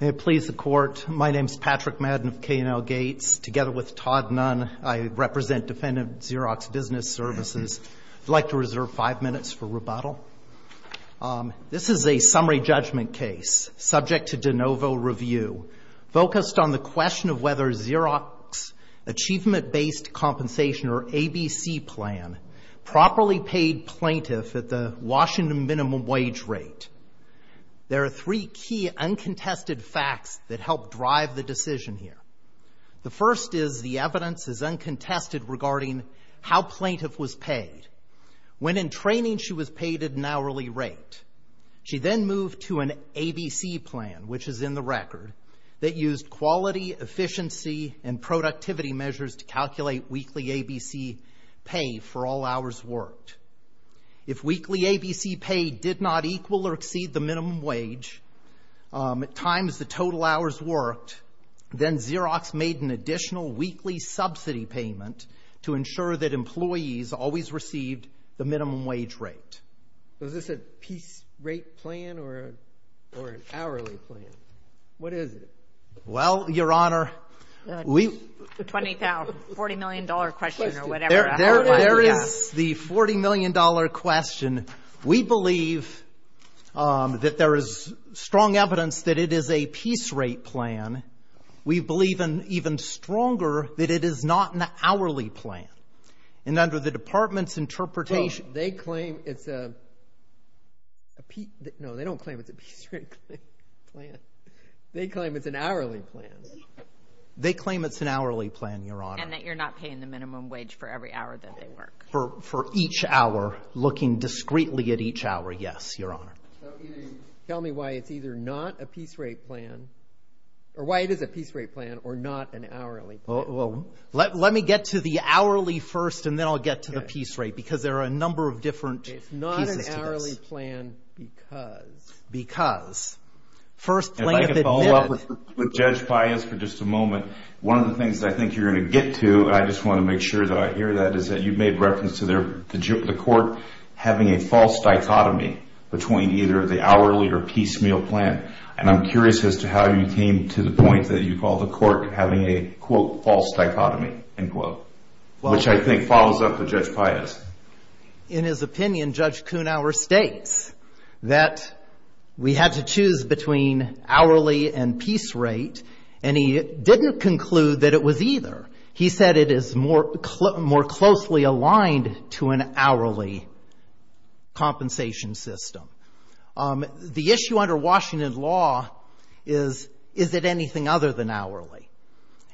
May it please the Court. My name is Patrick Madden of K&L Gates. Together with Todd Nunn, I represent Defendant Xerox Business Services. I'd like to reserve five minutes for rebuttal. This is a summary judgment case subject to de novo review, focused on the question of whether Xerox Achievement-Based Compensation, or ABC plan, properly paid plaintiff at the Washington minimum wage rate. There are three key uncontested facts that help drive the decision here. The first is the evidence is uncontested regarding how plaintiff was paid. When in training, she was paid at an hourly rate. She then moved to an ABC plan, which is in the record, that used quality, efficiency, and productivity measures to calculate weekly ABC pay for all hours worked. If weekly ABC pay did not equal or exceed the minimum wage at times the total hours worked, then Xerox made an additional weekly subsidy payment to ensure that employees always received the minimum wage rate. Was this a piece rate plan or an hourly plan? What is it? Well, Your Honor, we... The $20,000, $40 million question or whatever. There is the $40 million question. We believe that there is strong evidence that it is a piece rate plan. We believe even stronger that it is not an hourly plan. And under the department's interpretation... Well, they claim it's a... No, they don't claim it's a piece rate plan. They claim it's an hourly plan. They claim it's an hourly plan, Your Honor. And that you're not paying the minimum wage for every hour that they work. For each hour, looking discreetly at each hour, yes, Your Honor. Tell me why it's either not a piece rate plan, or why it is a piece rate plan or not an hourly plan. Well, let me get to the hourly first, and then I'll get to the piece rate, because there are a number of different pieces to this. It's not an hourly plan because... Because. First plaintiff admitted... If I could follow up with Judge Pius for just a moment, one of the things that I think you're going to get to, and I just want to make sure that I hear that, is that you made reference to the court having a false dichotomy between either the hourly or piece meal plan. And I'm curious as to how you came to the point that you call the court having a, quote, false dichotomy, end quote. Which I think follows up with Judge Pius. In his opinion, Judge Kuhnhauer states that we had to choose between hourly and piece rate, and he didn't conclude that it was either. He said it is more closely aligned to an hourly compensation system. The issue under Washington law is, is it anything other than hourly?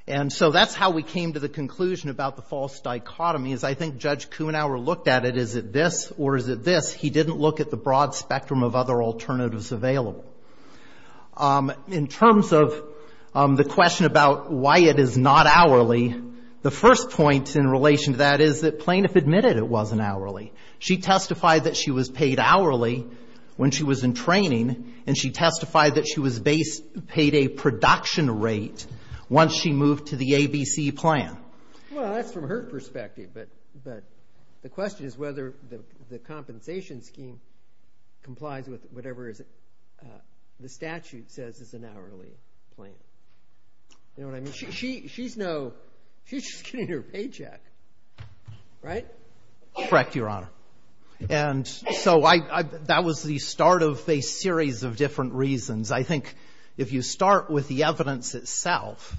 And so that's how we came to the conclusion about the false dichotomy, is I think Judge Kuhnhauer looked at it, is it this or is it this? He didn't look at the broad spectrum of other alternatives available. In terms of the question about why it is not hourly, the first point in relation to that is that plaintiff admitted it wasn't hourly. She testified that she was paid hourly when she was in training, and she testified that she was paid a production rate once she moved to the ABC plan. Well, that's from her perspective, but the question is whether the compensation scheme complies with whatever the statute says is an hourly plan. You know what I mean? She's just getting her paycheck, right? Correct, Your Honor. And so that was the start of a series of different reasons. I think if you start with the evidence itself,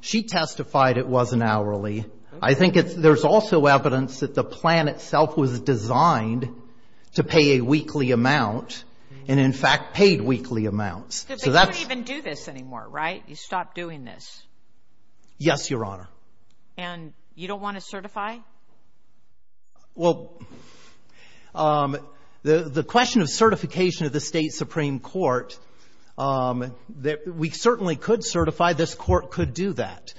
she testified it was an hourly. I think there's also evidence that the plan itself was designed to pay a weekly amount and, in fact, paid weekly amounts. Because they don't even do this anymore, right? You stop doing this. Yes, Your Honor. And you don't want to certify? Well, the question of certification of the State Supreme Court, we certainly could certify. This court could do that.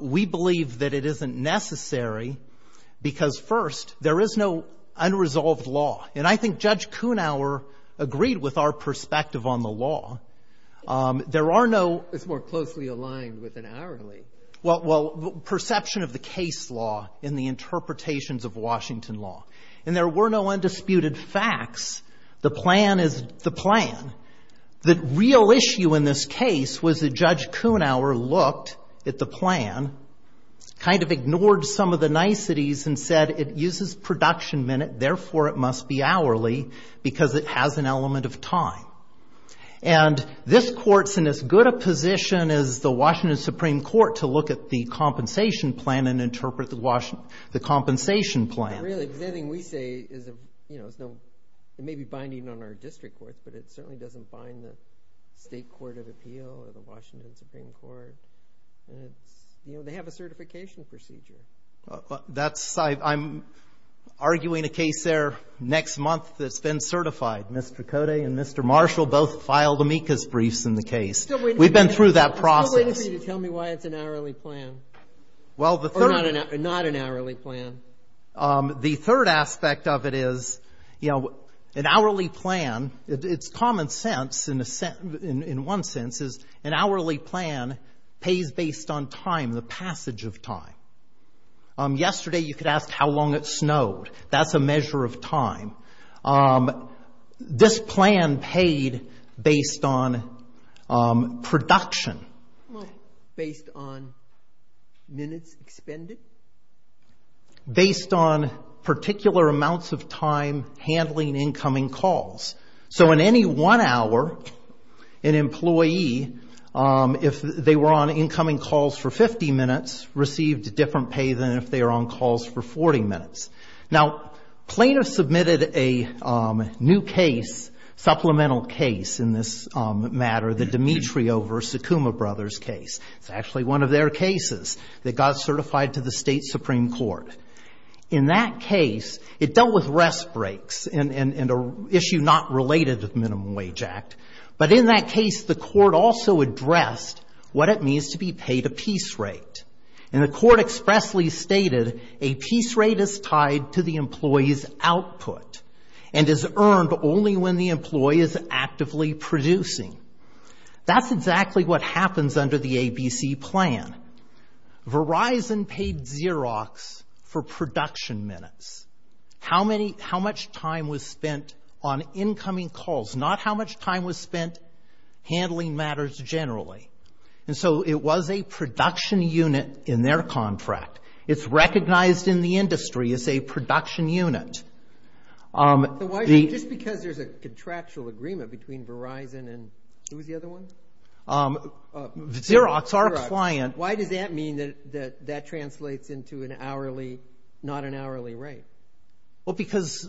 We believe that it isn't necessary because, first, there is no unresolved law. And I think Judge Kunauer agreed with our perspective on the law. There are no — It's more closely aligned with an hourly. Well, perception of the case law and the interpretations of Washington law. And there were no undisputed facts. The plan is the plan. The real issue in this case was that Judge Kunauer looked at the plan, kind of ignored some of the niceties and said it uses production minute, therefore it must be hourly because it has an element of time. And this court's in as good a position as the Washington Supreme Court to look at the compensation plan and interpret the compensation plan. Really, because anything we say may be binding on our district courts, but it certainly doesn't bind the State Court of Appeal or the Washington Supreme Court. They have a certification procedure. I'm arguing a case there next month that's been certified. Mr. Cote and Mr. Marshall both filed amicus briefs in the case. We've been through that process. I'm still waiting for you to tell me why it's an hourly plan. Or not an hourly plan. The third aspect of it is, you know, an hourly plan, it's common sense in one sense is an hourly plan pays based on time, the passage of time. Yesterday you could ask how long it snowed. That's a measure of time. This plan paid based on production. Based on minutes expended? Based on particular amounts of time handling incoming calls. So in any one hour, an employee, if they were on incoming calls for 50 minutes, received a different pay than if they were on calls for 40 minutes. Now, Plano submitted a new case, supplemental case in this matter, the Dimitri over Sakuma Brothers case. It's actually one of their cases that got certified to the state Supreme Court. In that case, it dealt with rest breaks and an issue not related to the Minimum Wage Act. But in that case, the court also addressed what it means to be paid a piece rate. And the court expressly stated a piece rate is tied to the employee's output and is earned only when the employee is actively producing. That's exactly what happens under the ABC plan. Verizon paid Xerox for production minutes. How much time was spent on incoming calls? Not how much time was spent handling matters generally. And so it was a production unit in their contract. It's recognized in the industry as a production unit. Just because there's a contractual agreement between Verizon and who was the other one? Xerox, our client. Why does that mean that that translates into an hourly, not an hourly rate? Well, because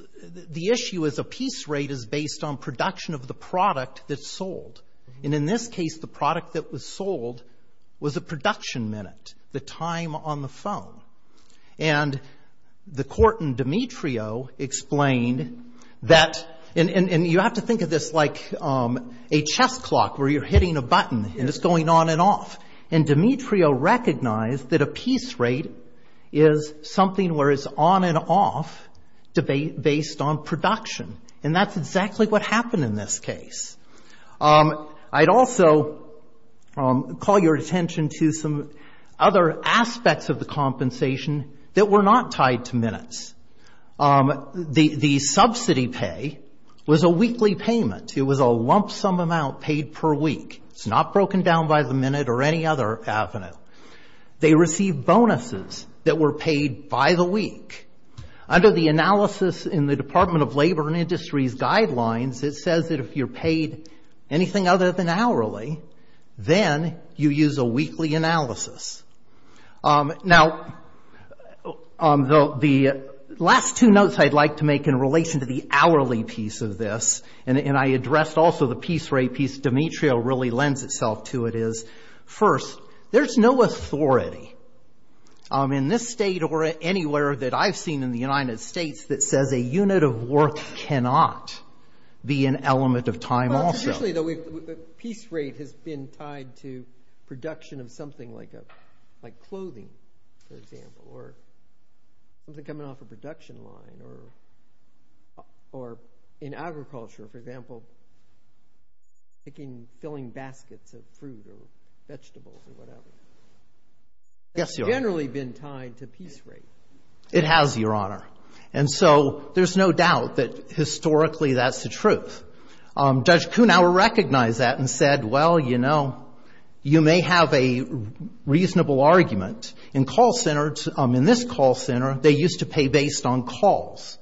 the issue is a piece rate is based on production of the product that's sold. And in this case, the product that was sold was a production minute, the time on the phone. And the court in Demetrio explained that you have to think of this like a chess clock where you're hitting a button and it's going on and off. And Demetrio recognized that a piece rate is something where it's on and off based on production. And that's exactly what happened in this case. I'd also call your attention to some other aspects of the compensation that were not tied to minutes. The subsidy pay was a weekly payment. It was a lump sum amount paid per week. It's not broken down by the minute or any other avenue. They received bonuses that were paid by the week. Under the analysis in the Department of Labor and Industries guidelines, it says that if you're paid anything other than hourly, then you use a weekly analysis. Now, the last two notes I'd like to make in relation to the hourly piece of this, and I addressed also the piece rate piece Demetrio really lends itself to it is, first, there's no authority. In this state or anywhere that I've seen in the United States that says a unit of work cannot be an element of time also. Usually the piece rate has been tied to production of something like clothing, for example, or something coming off a production line, or in agriculture, for example, picking, filling baskets of fruit or vegetables or whatever. Yes, Your Honor. That's generally been tied to piece rate. It has, Your Honor. And so there's no doubt that historically that's the truth. Judge Kuhnhauer recognized that and said, well, you know, you may have a reasonable argument. In call centers, in this call center, they used to pay based on calls,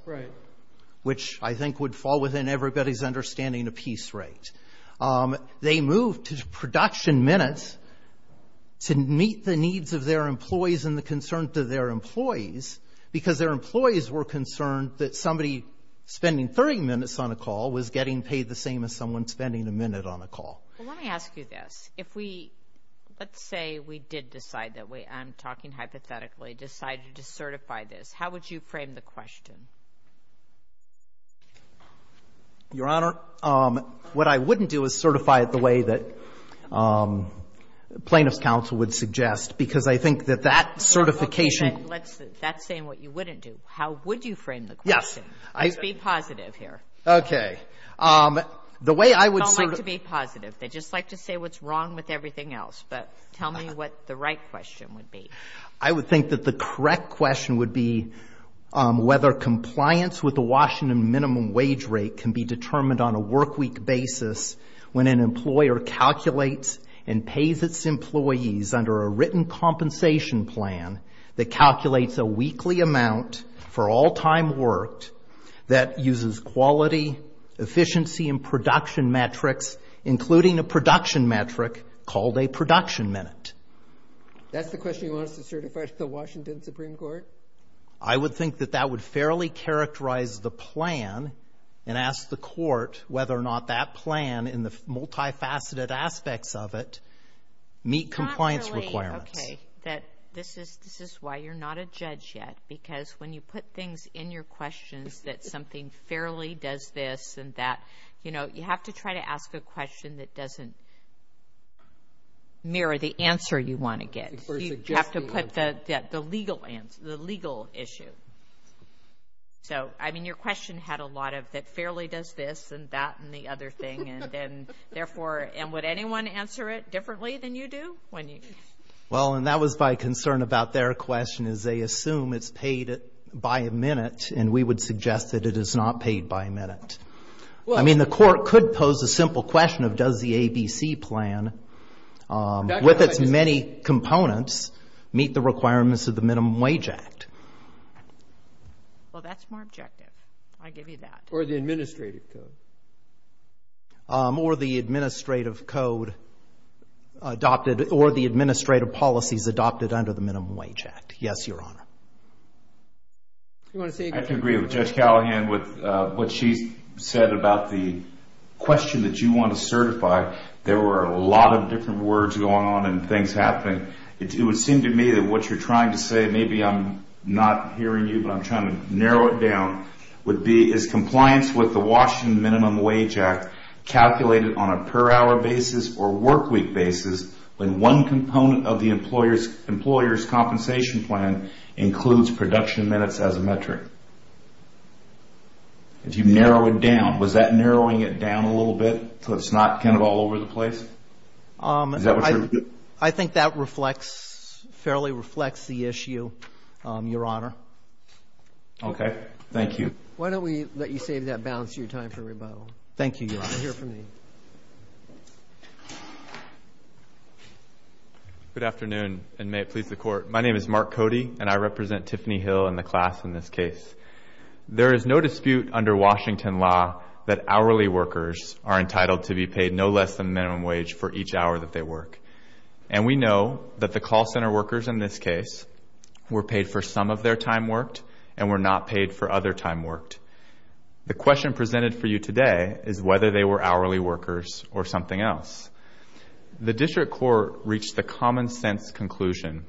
which I think would fall within everybody's understanding of piece rate. They moved to production minutes to meet the needs of their employees and the concerns to their employees because their employees were concerned that somebody spending 30 minutes on a call was getting paid the same as someone spending a minute on a call. Well, let me ask you this. If we, let's say we did decide that we, I'm talking hypothetically, decided to certify this, how would you frame the question? Your Honor, what I wouldn't do is certify it the way that plaintiff's counsel would suggest because I think that that certification. That's saying what you wouldn't do. How would you frame the question? Yes. Let's be positive here. Okay. They don't like to be positive. They just like to say what's wrong with everything else. But tell me what the right question would be. I would think that the correct question would be whether compliance with the Washington minimum wage rate can be determined on a workweek basis when an employer calculates and pays its employees under a written compensation plan that calculates a weekly amount for all time worked that uses quality, efficiency, and production metrics, including a production metric called a production minute. That's the question you want us to certify to the Washington Supreme Court? I would think that that would fairly characterize the plan and ask the court whether or not that plan in the multifaceted aspects of it meet compliance requirements. Okay. This is why you're not a judge yet because when you put things in your questions that something fairly does this and that, you know, you have to ask a question that doesn't mirror the answer you want to get. You have to put the legal issue. So, I mean, your question had a lot of that fairly does this and that and the other thing, and therefore, and would anyone answer it differently than you do? Well, and that was my concern about their question is they assume it's paid by a minute, and we would suggest that it is not paid by a minute. I mean, the court could pose a simple question of does the ABC plan, with its many components, meet the requirements of the Minimum Wage Act. Well, that's more objective. I give you that. Or the administrative code. Or the administrative code adopted or the administrative policies adopted under the Minimum Wage Act. Yes, Your Honor. I agree with Judge Callahan with what she said about the question that you want to certify. There were a lot of different words going on and things happening. It would seem to me that what you're trying to say, maybe I'm not hearing you but I'm trying to narrow it down, would be is compliance with the Washington Minimum Wage Act calculated on a per hour basis or workweek basis when one component of the employer's compensation plan includes production minutes as a metric? If you narrow it down, was that narrowing it down a little bit so it's not kind of all over the place? Is that what you're? I think that reflects, fairly reflects the issue, Your Honor. Okay. Thank you. Why don't we let you save that balance of your time for rebuttal. Thank you, Your Honor. We'll hear from you. Good afternoon and may it please the Court. My name is Mark Cody and I represent Tiffany Hill and the class in this case. There is no dispute under Washington law that hourly workers are entitled to be paid no less than minimum wage for each hour that they work. And we know that the call center workers in this case were paid for some of their time worked and were not paid for other time worked. The question presented for you today is whether they were hourly workers or something else. The district court reached the common sense conclusion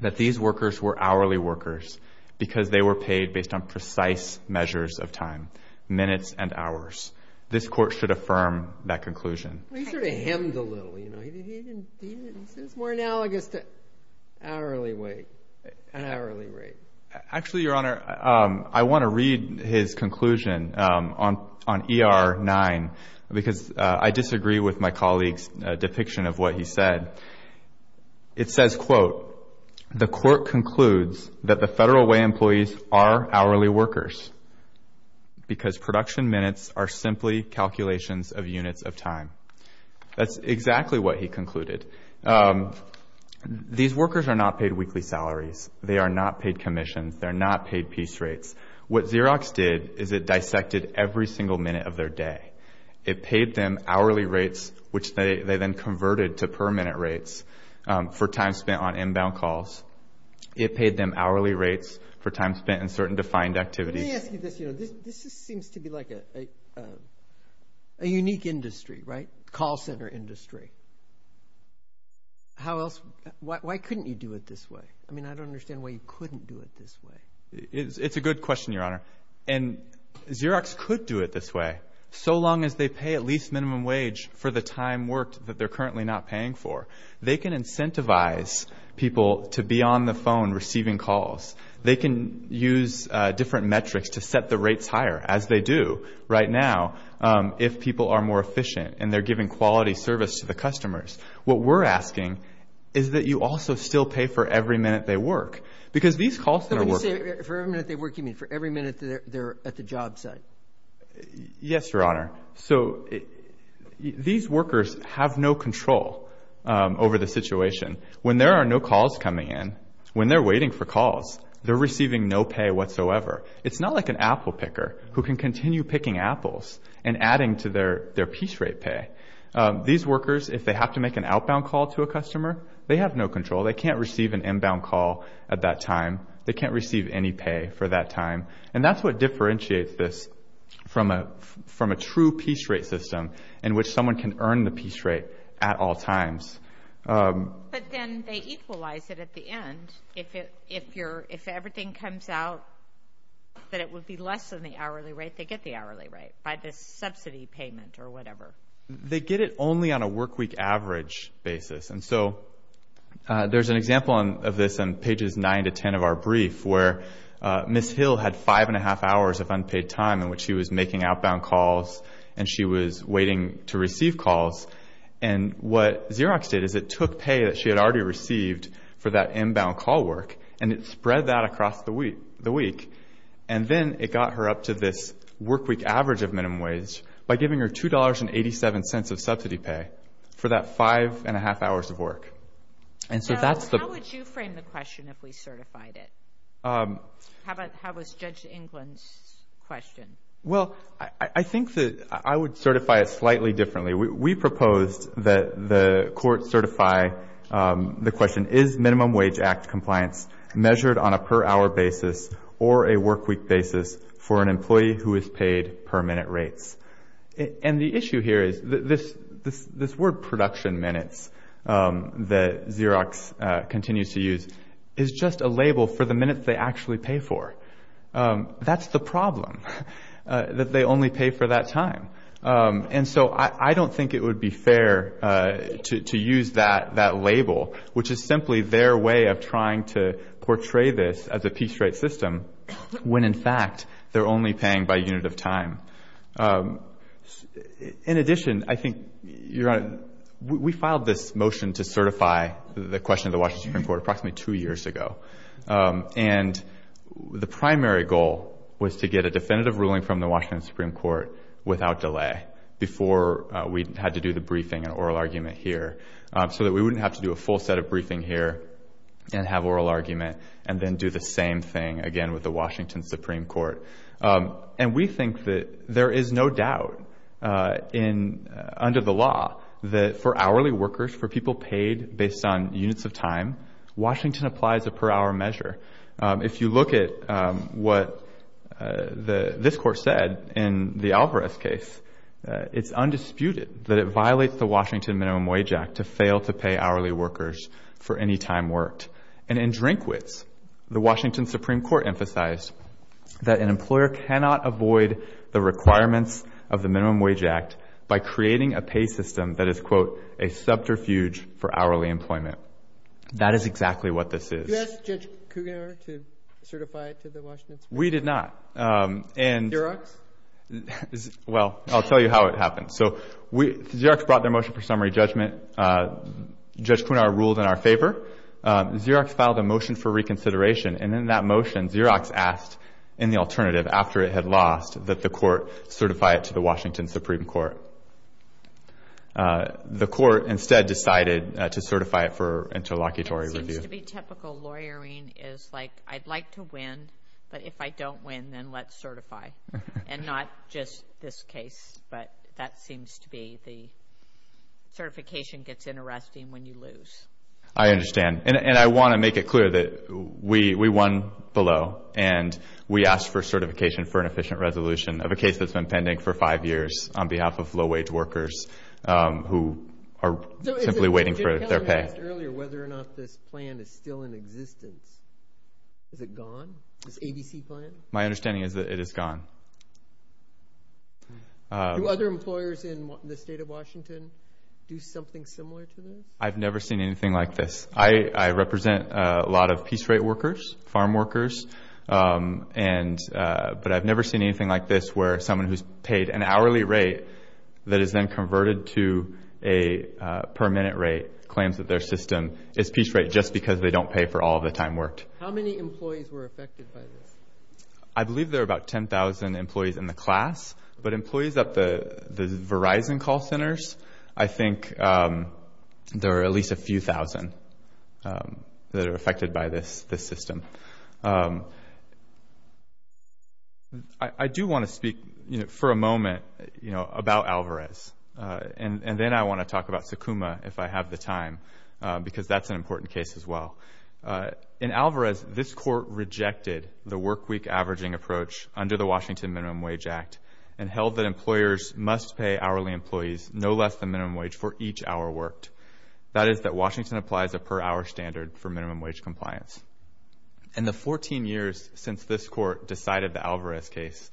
that these workers were hourly workers because they were paid based on precise measures of time, minutes and hours. This court should affirm that conclusion. Well, he sort of hemmed a little, you know. He didn't, it's more analogous to hourly wage, hourly rate. Actually, Your Honor, I want to read his conclusion on ER 9 because I disagree with my colleague's depiction of what he said. It says, quote, the court concludes that the Federal Way employees are hourly workers because production minutes are simply calculations of units of time. That's exactly what he concluded. These workers are not paid weekly salaries. They are not paid commissions. They are not paid piece rates. What Xerox did is it dissected every single minute of their day. It paid them hourly rates, which they then converted to per minute rates for time spent on inbound calls. It paid them hourly rates for time spent in certain defined activities. Let me ask you this. This seems to be like a unique industry, right, call center industry. How else, why couldn't you do it this way? I mean, I don't understand why you couldn't do it this way. It's a good question, Your Honor, and Xerox could do it this way, so long as they pay at least minimum wage for the time worked that they're currently not paying for. They can incentivize people to be on the phone receiving calls. They can use different metrics to set the rates higher, as they do right now, if people are more efficient and they're giving quality service to the customers. What we're asking is that you also still pay for every minute they work, because these call center workers. So when you say for every minute they work, you mean for every minute they're at the job site? Yes, Your Honor. So these workers have no control over the situation. When there are no calls coming in, when they're waiting for calls, they're receiving no pay whatsoever. It's not like an apple picker who can continue picking apples and adding to their piece rate pay. These workers, if they have to make an outbound call to a customer, they have no control. They can't receive an inbound call at that time. They can't receive any pay for that time. And that's what differentiates this from a true piece rate system in which someone can earn the piece rate at all times. But then they equalize it at the end. If everything comes out that it would be less than the hourly rate, they get the hourly rate by this subsidy payment or whatever. They get it only on a workweek average basis. And so there's an example of this on pages 9 to 10 of our brief where Ms. Hill had five and a half hours of unpaid time in which she was making outbound calls and she was waiting to receive calls. And what Xerox did is it took pay that she had already received for that inbound call work and it spread that across the week. And then it got her up to this workweek average of minimum wage by giving her $2.87 of subsidy pay for that five and a half hours of work. How would you frame the question if we certified it? How about Judge England's question? Well, I think that I would certify it slightly differently. We proposed that the court certify the question, is minimum wage act compliance measured on a per hour basis or a workweek basis for an employee who is paid per minute rates? And the issue here is this word production minutes that Xerox continues to use is just a label for the minutes they actually pay for. That's the problem, that they only pay for that time. And so I don't think it would be fair to use that label, which is simply their way of trying to portray this as a piece rate system when, in fact, they're only paying by unit of time. In addition, I think, Your Honor, we filed this motion to certify the question to the Washington Supreme Court approximately two years ago. And the primary goal was to get a definitive ruling from the Washington Supreme Court without delay before we had to do the briefing and oral argument here so that we wouldn't have to do a full set of briefing here and have oral argument and then do the same thing again with the Washington Supreme Court. And we think that there is no doubt under the law that for hourly workers, for people paid based on units of time, Washington applies a per hour measure. If you look at what this court said in the Alvarez case, it's undisputed that it violates the Washington Minimum Wage Act to fail to pay hourly workers for any time worked. And in Drinkwits, the Washington Supreme Court emphasized that an employer cannot avoid the requirements of the Minimum Wage Act by creating a pay system that is, quote, a subterfuge for hourly employment. That is exactly what this is. Did you ask Judge Cougar to certify it to the Washington Supreme Court? We did not. Xerox? Well, I'll tell you how it happened. So Xerox brought their motion for summary judgment. Judge Cougar ruled in our favor. Xerox filed a motion for reconsideration, and in that motion Xerox asked in the alternative after it had lost that the court certify it to the Washington Supreme Court. The court instead decided to certify it for interlocutory review. But if I don't win, then let's certify. And not just this case, but that seems to be the certification gets interesting when you lose. I understand. And I want to make it clear that we won below, and we asked for certification for an efficient resolution of a case that's been pending for five years on behalf of low-wage workers who are simply waiting for their pay. You asked earlier whether or not this plan is still in existence. Is it gone, this ABC plan? My understanding is that it is gone. Do other employers in the state of Washington do something similar to this? I've never seen anything like this. I represent a lot of piece rate workers, farm workers, but I've never seen anything like this where someone who's paid an hourly rate that is then converted to a per-minute rate claims that their system is piece rate just because they don't pay for all the time worked. How many employees were affected by this? I believe there are about 10,000 employees in the class, but employees at the Verizon call centers, I think there are at least a few thousand that are affected by this system. I do want to speak for a moment about Alvarez, and then I want to talk about Sukuma if I have the time, because that's an important case as well. In Alvarez, this court rejected the workweek averaging approach under the Washington Minimum Wage Act and held that employers must pay hourly employees no less than minimum wage for each hour worked. That is that Washington applies a per-hour standard for minimum wage compliance. In the 14 years since this court decided the Alvarez case,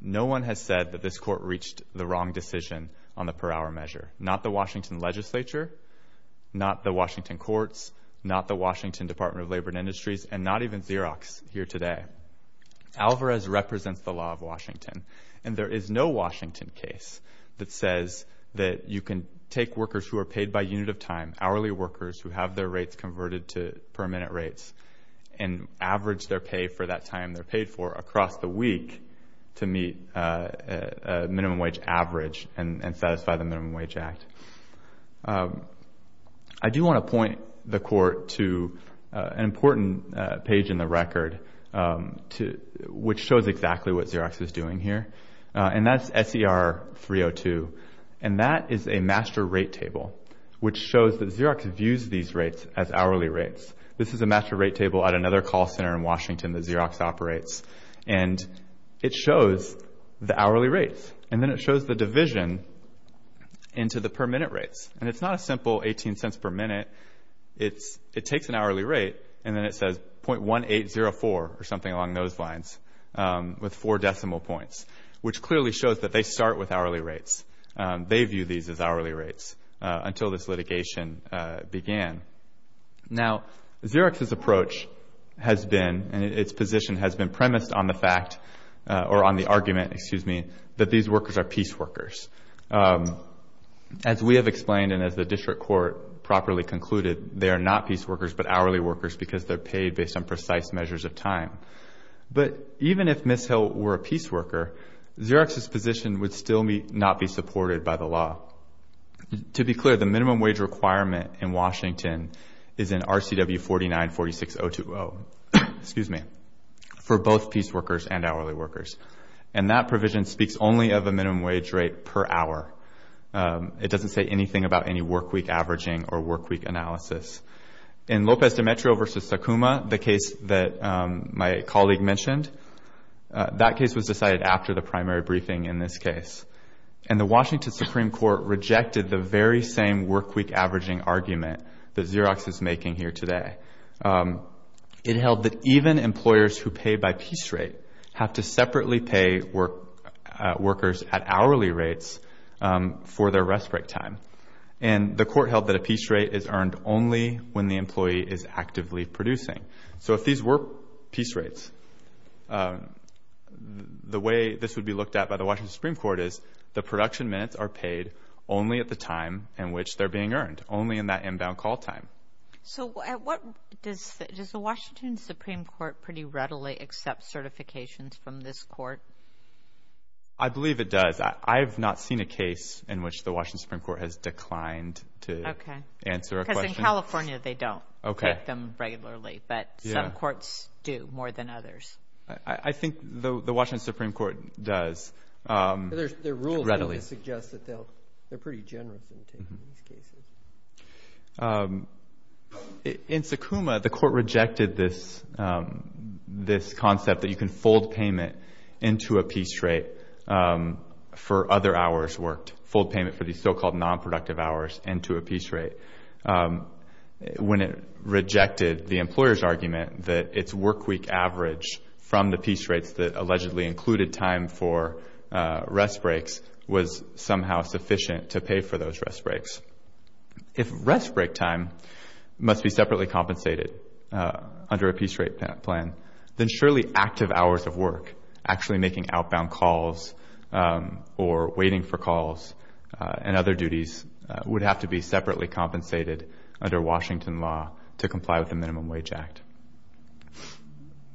no one has said that this court reached the wrong decision on the per-hour measure, not the Washington legislature, not the Washington courts, not the Washington Department of Labor and Industries, and not even Xerox here today. Alvarez represents the law of Washington, and there is no Washington case that says that you can take workers who are paid by unit of time, hourly workers who have their rates converted to per-minute rates and average their pay for that time they're paid for across the week to meet a minimum wage average and satisfy the Minimum Wage Act. I do want to point the court to an important page in the record which shows exactly what Xerox is doing here, and that's SER 302, and that is a master rate table which shows that Xerox views these rates as hourly rates. This is a master rate table at another call center in Washington that Xerox operates, and it shows the hourly rates, and then it shows the division into the per-minute rates, and it's not a simple $0.18 per minute. It takes an hourly rate, and then it says 0.1804 or something along those lines with four decimal points, which clearly shows that they start with hourly rates. They view these as hourly rates until this litigation began. Now, Xerox's approach has been, and its position has been premised on the fact or on the argument, excuse me, that these workers are peace workers. As we have explained and as the district court properly concluded, they are not peace workers but hourly workers because they're paid based on precise measures of time. But even if Ms. Hill were a peace worker, Xerox's position would still not be supported by the law. To be clear, the minimum wage requirement in Washington is an RCW 49-46020, excuse me, for both peace workers and hourly workers, and that provision speaks only of a minimum wage rate per hour. It doesn't say anything about any workweek averaging or workweek analysis. In Lopez de Metro v. Sakuma, the case that my colleague mentioned, that case was decided after the primary briefing in this case, and the Washington Supreme Court rejected the very same workweek averaging argument that Xerox is making here today. It held that even employers who pay by peace rate have to separately pay workers at hourly rates for their rest break time, and the court held that a peace rate is earned only when the employee is actively producing. So if these were peace rates, the way this would be looked at by the Washington Supreme Court is the production minutes are paid only at the time in which they're being earned, only in that inbound call time. So does the Washington Supreme Court pretty readily accept certifications from this court? I believe it does. I have not seen a case in which the Washington Supreme Court has declined to answer a question. Okay, because in California they don't get them regularly, but some courts do more than others. I think the Washington Supreme Court does readily. Their rules suggest that they're pretty generous in taking these cases. In Sakuma, the court rejected this concept that you can fold payment into a peace rate for other hours worked, fold payment for these so-called nonproductive hours into a peace rate, when it rejected the employer's argument that its workweek average from the peace rates that allegedly included time for rest breaks was somehow sufficient to pay for those rest breaks. If rest break time must be separately compensated under a peace rate plan, then surely active hours of work, actually making outbound calls or waiting for calls and other duties, would have to be separately compensated under Washington law to comply with the Minimum Wage Act.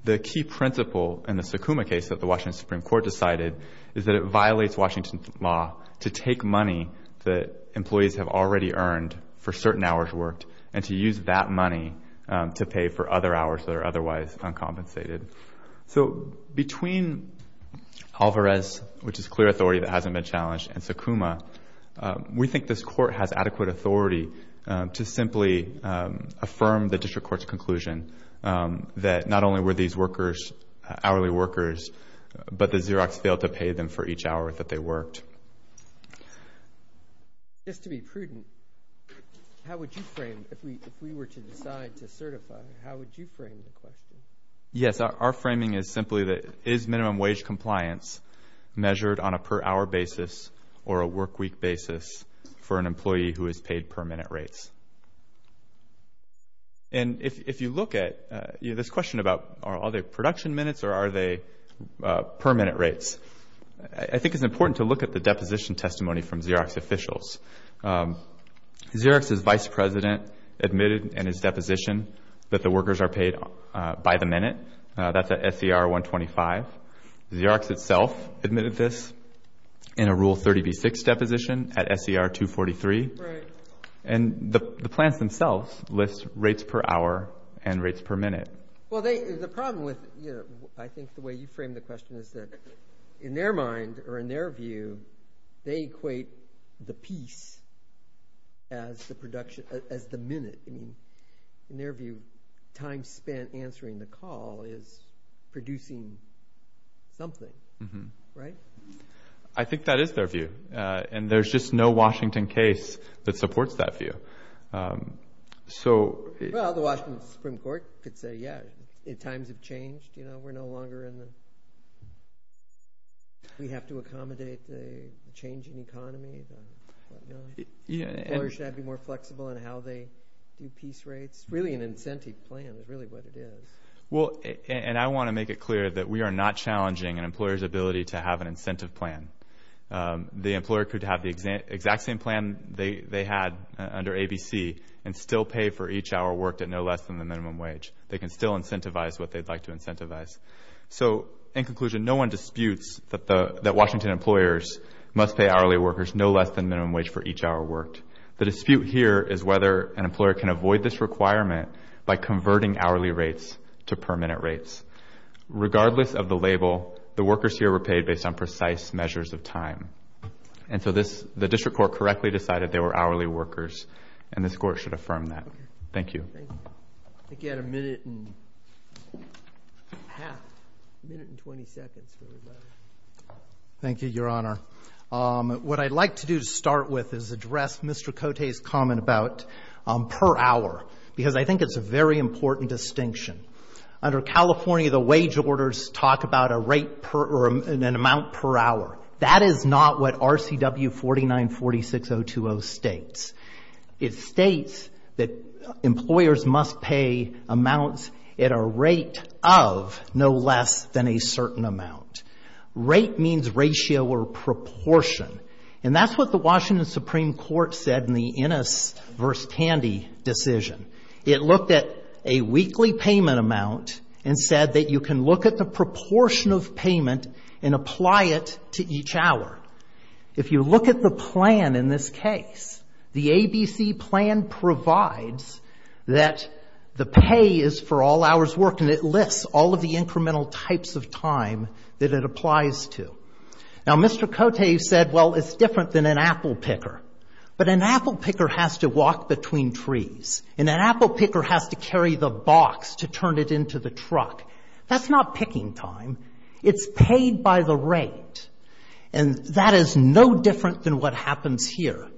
The key principle in the Sakuma case that the Washington Supreme Court decided is that it violates Washington law to take money that employees have already earned for certain hours worked and to use that money to pay for other hours that are otherwise uncompensated. So between Alvarez, which is clear authority that hasn't been challenged, and Sakuma, we think this court has adequate authority to simply affirm the district court's conclusion that not only were these workers hourly workers, but the Xerox failed to pay them for each hour that they worked. Just to be prudent, how would you frame, if we were to decide to certify, how would you frame the question? Yes, our framing is simply that is minimum wage compliance measured on a per hour basis or a workweek basis for an employee who is paid per minute rates? And if you look at this question about are they production minutes or are they per minute rates, I think it's important to look at the deposition testimony from Xerox officials. Xerox's vice president admitted in his deposition that the workers are paid by the minute. That's at SER 125. Xerox itself admitted this in a Rule 30b-6 deposition at SER 243. Right. And the plans themselves list rates per hour and rates per minute. Well, the problem with, you know, I think the way you framed the question is that in their mind or in their view, they equate the piece as the minute. I mean, in their view, time spent answering the call is producing something, right? I think that is their view, and there's just no Washington case that supports that view. Well, the Washington Supreme Court could say, yeah, times have changed. You know, we're no longer in the we have to accommodate the changing economy. Employers should be more flexible in how they do piece rates. Really an incentive plan is really what it is. Well, and I want to make it clear that we are not challenging an employer's ability to have an incentive plan. The employer could have the exact same plan they had under ABC and still pay for each hour worked at no less than the minimum wage. They can still incentivize what they'd like to incentivize. So, in conclusion, no one disputes that Washington employers must pay hourly workers no less than minimum wage for each hour worked. The dispute here is whether an employer can avoid this requirement by converting hourly rates to per minute rates. Regardless of the label, the workers here were paid based on precise measures of time. And so the district court correctly decided they were hourly workers, and this court should affirm that. Thank you. Thank you. I think you had a minute and a half, a minute and 20 seconds. Thank you, Your Honor. What I'd like to do to start with is address Mr. Cote's comment about per hour, because I think it's a very important distinction. Under California, the wage orders talk about a rate per an amount per hour. That is not what RCW 4946020 states. It states that employers must pay amounts at a rate of no less than a certain amount. Rate means ratio or proportion, and that's what the Washington Supreme Court said in the Ennis v. Candy decision. It looked at a weekly payment amount and said that you can look at the proportion of payment and apply it to each hour. If you look at the plan in this case, the ABC plan provides that the pay is for all hours worked, and it lists all of the incremental types of time that it applies to. Now, Mr. Cote said, well, it's different than an apple picker, but an apple picker has to walk between trees, and an apple picker has to carry the box to turn it into the truck. That's not picking time. It's paid by the rate, and that is no different than what happens here.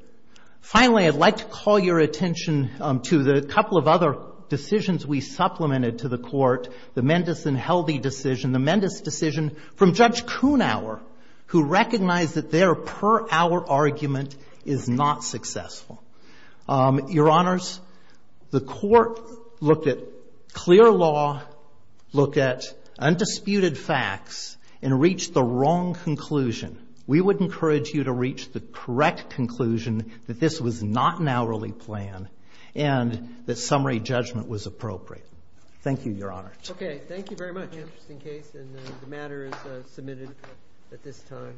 Finally, I'd like to call your attention to the couple of other decisions we supplemented to the court, the Mendis and Heldy decision, the Mendis decision from Judge Kuhnauer, who recognized that their per hour argument is not successful. Your Honors, the court looked at clear law, looked at undisputed facts, and reached the wrong conclusion. We would encourage you to reach the correct conclusion that this was not an hourly plan and that summary judgment was appropriate. Thank you, Your Honors. Okay. Thank you very much. Interesting case, and the matter is submitted at this time.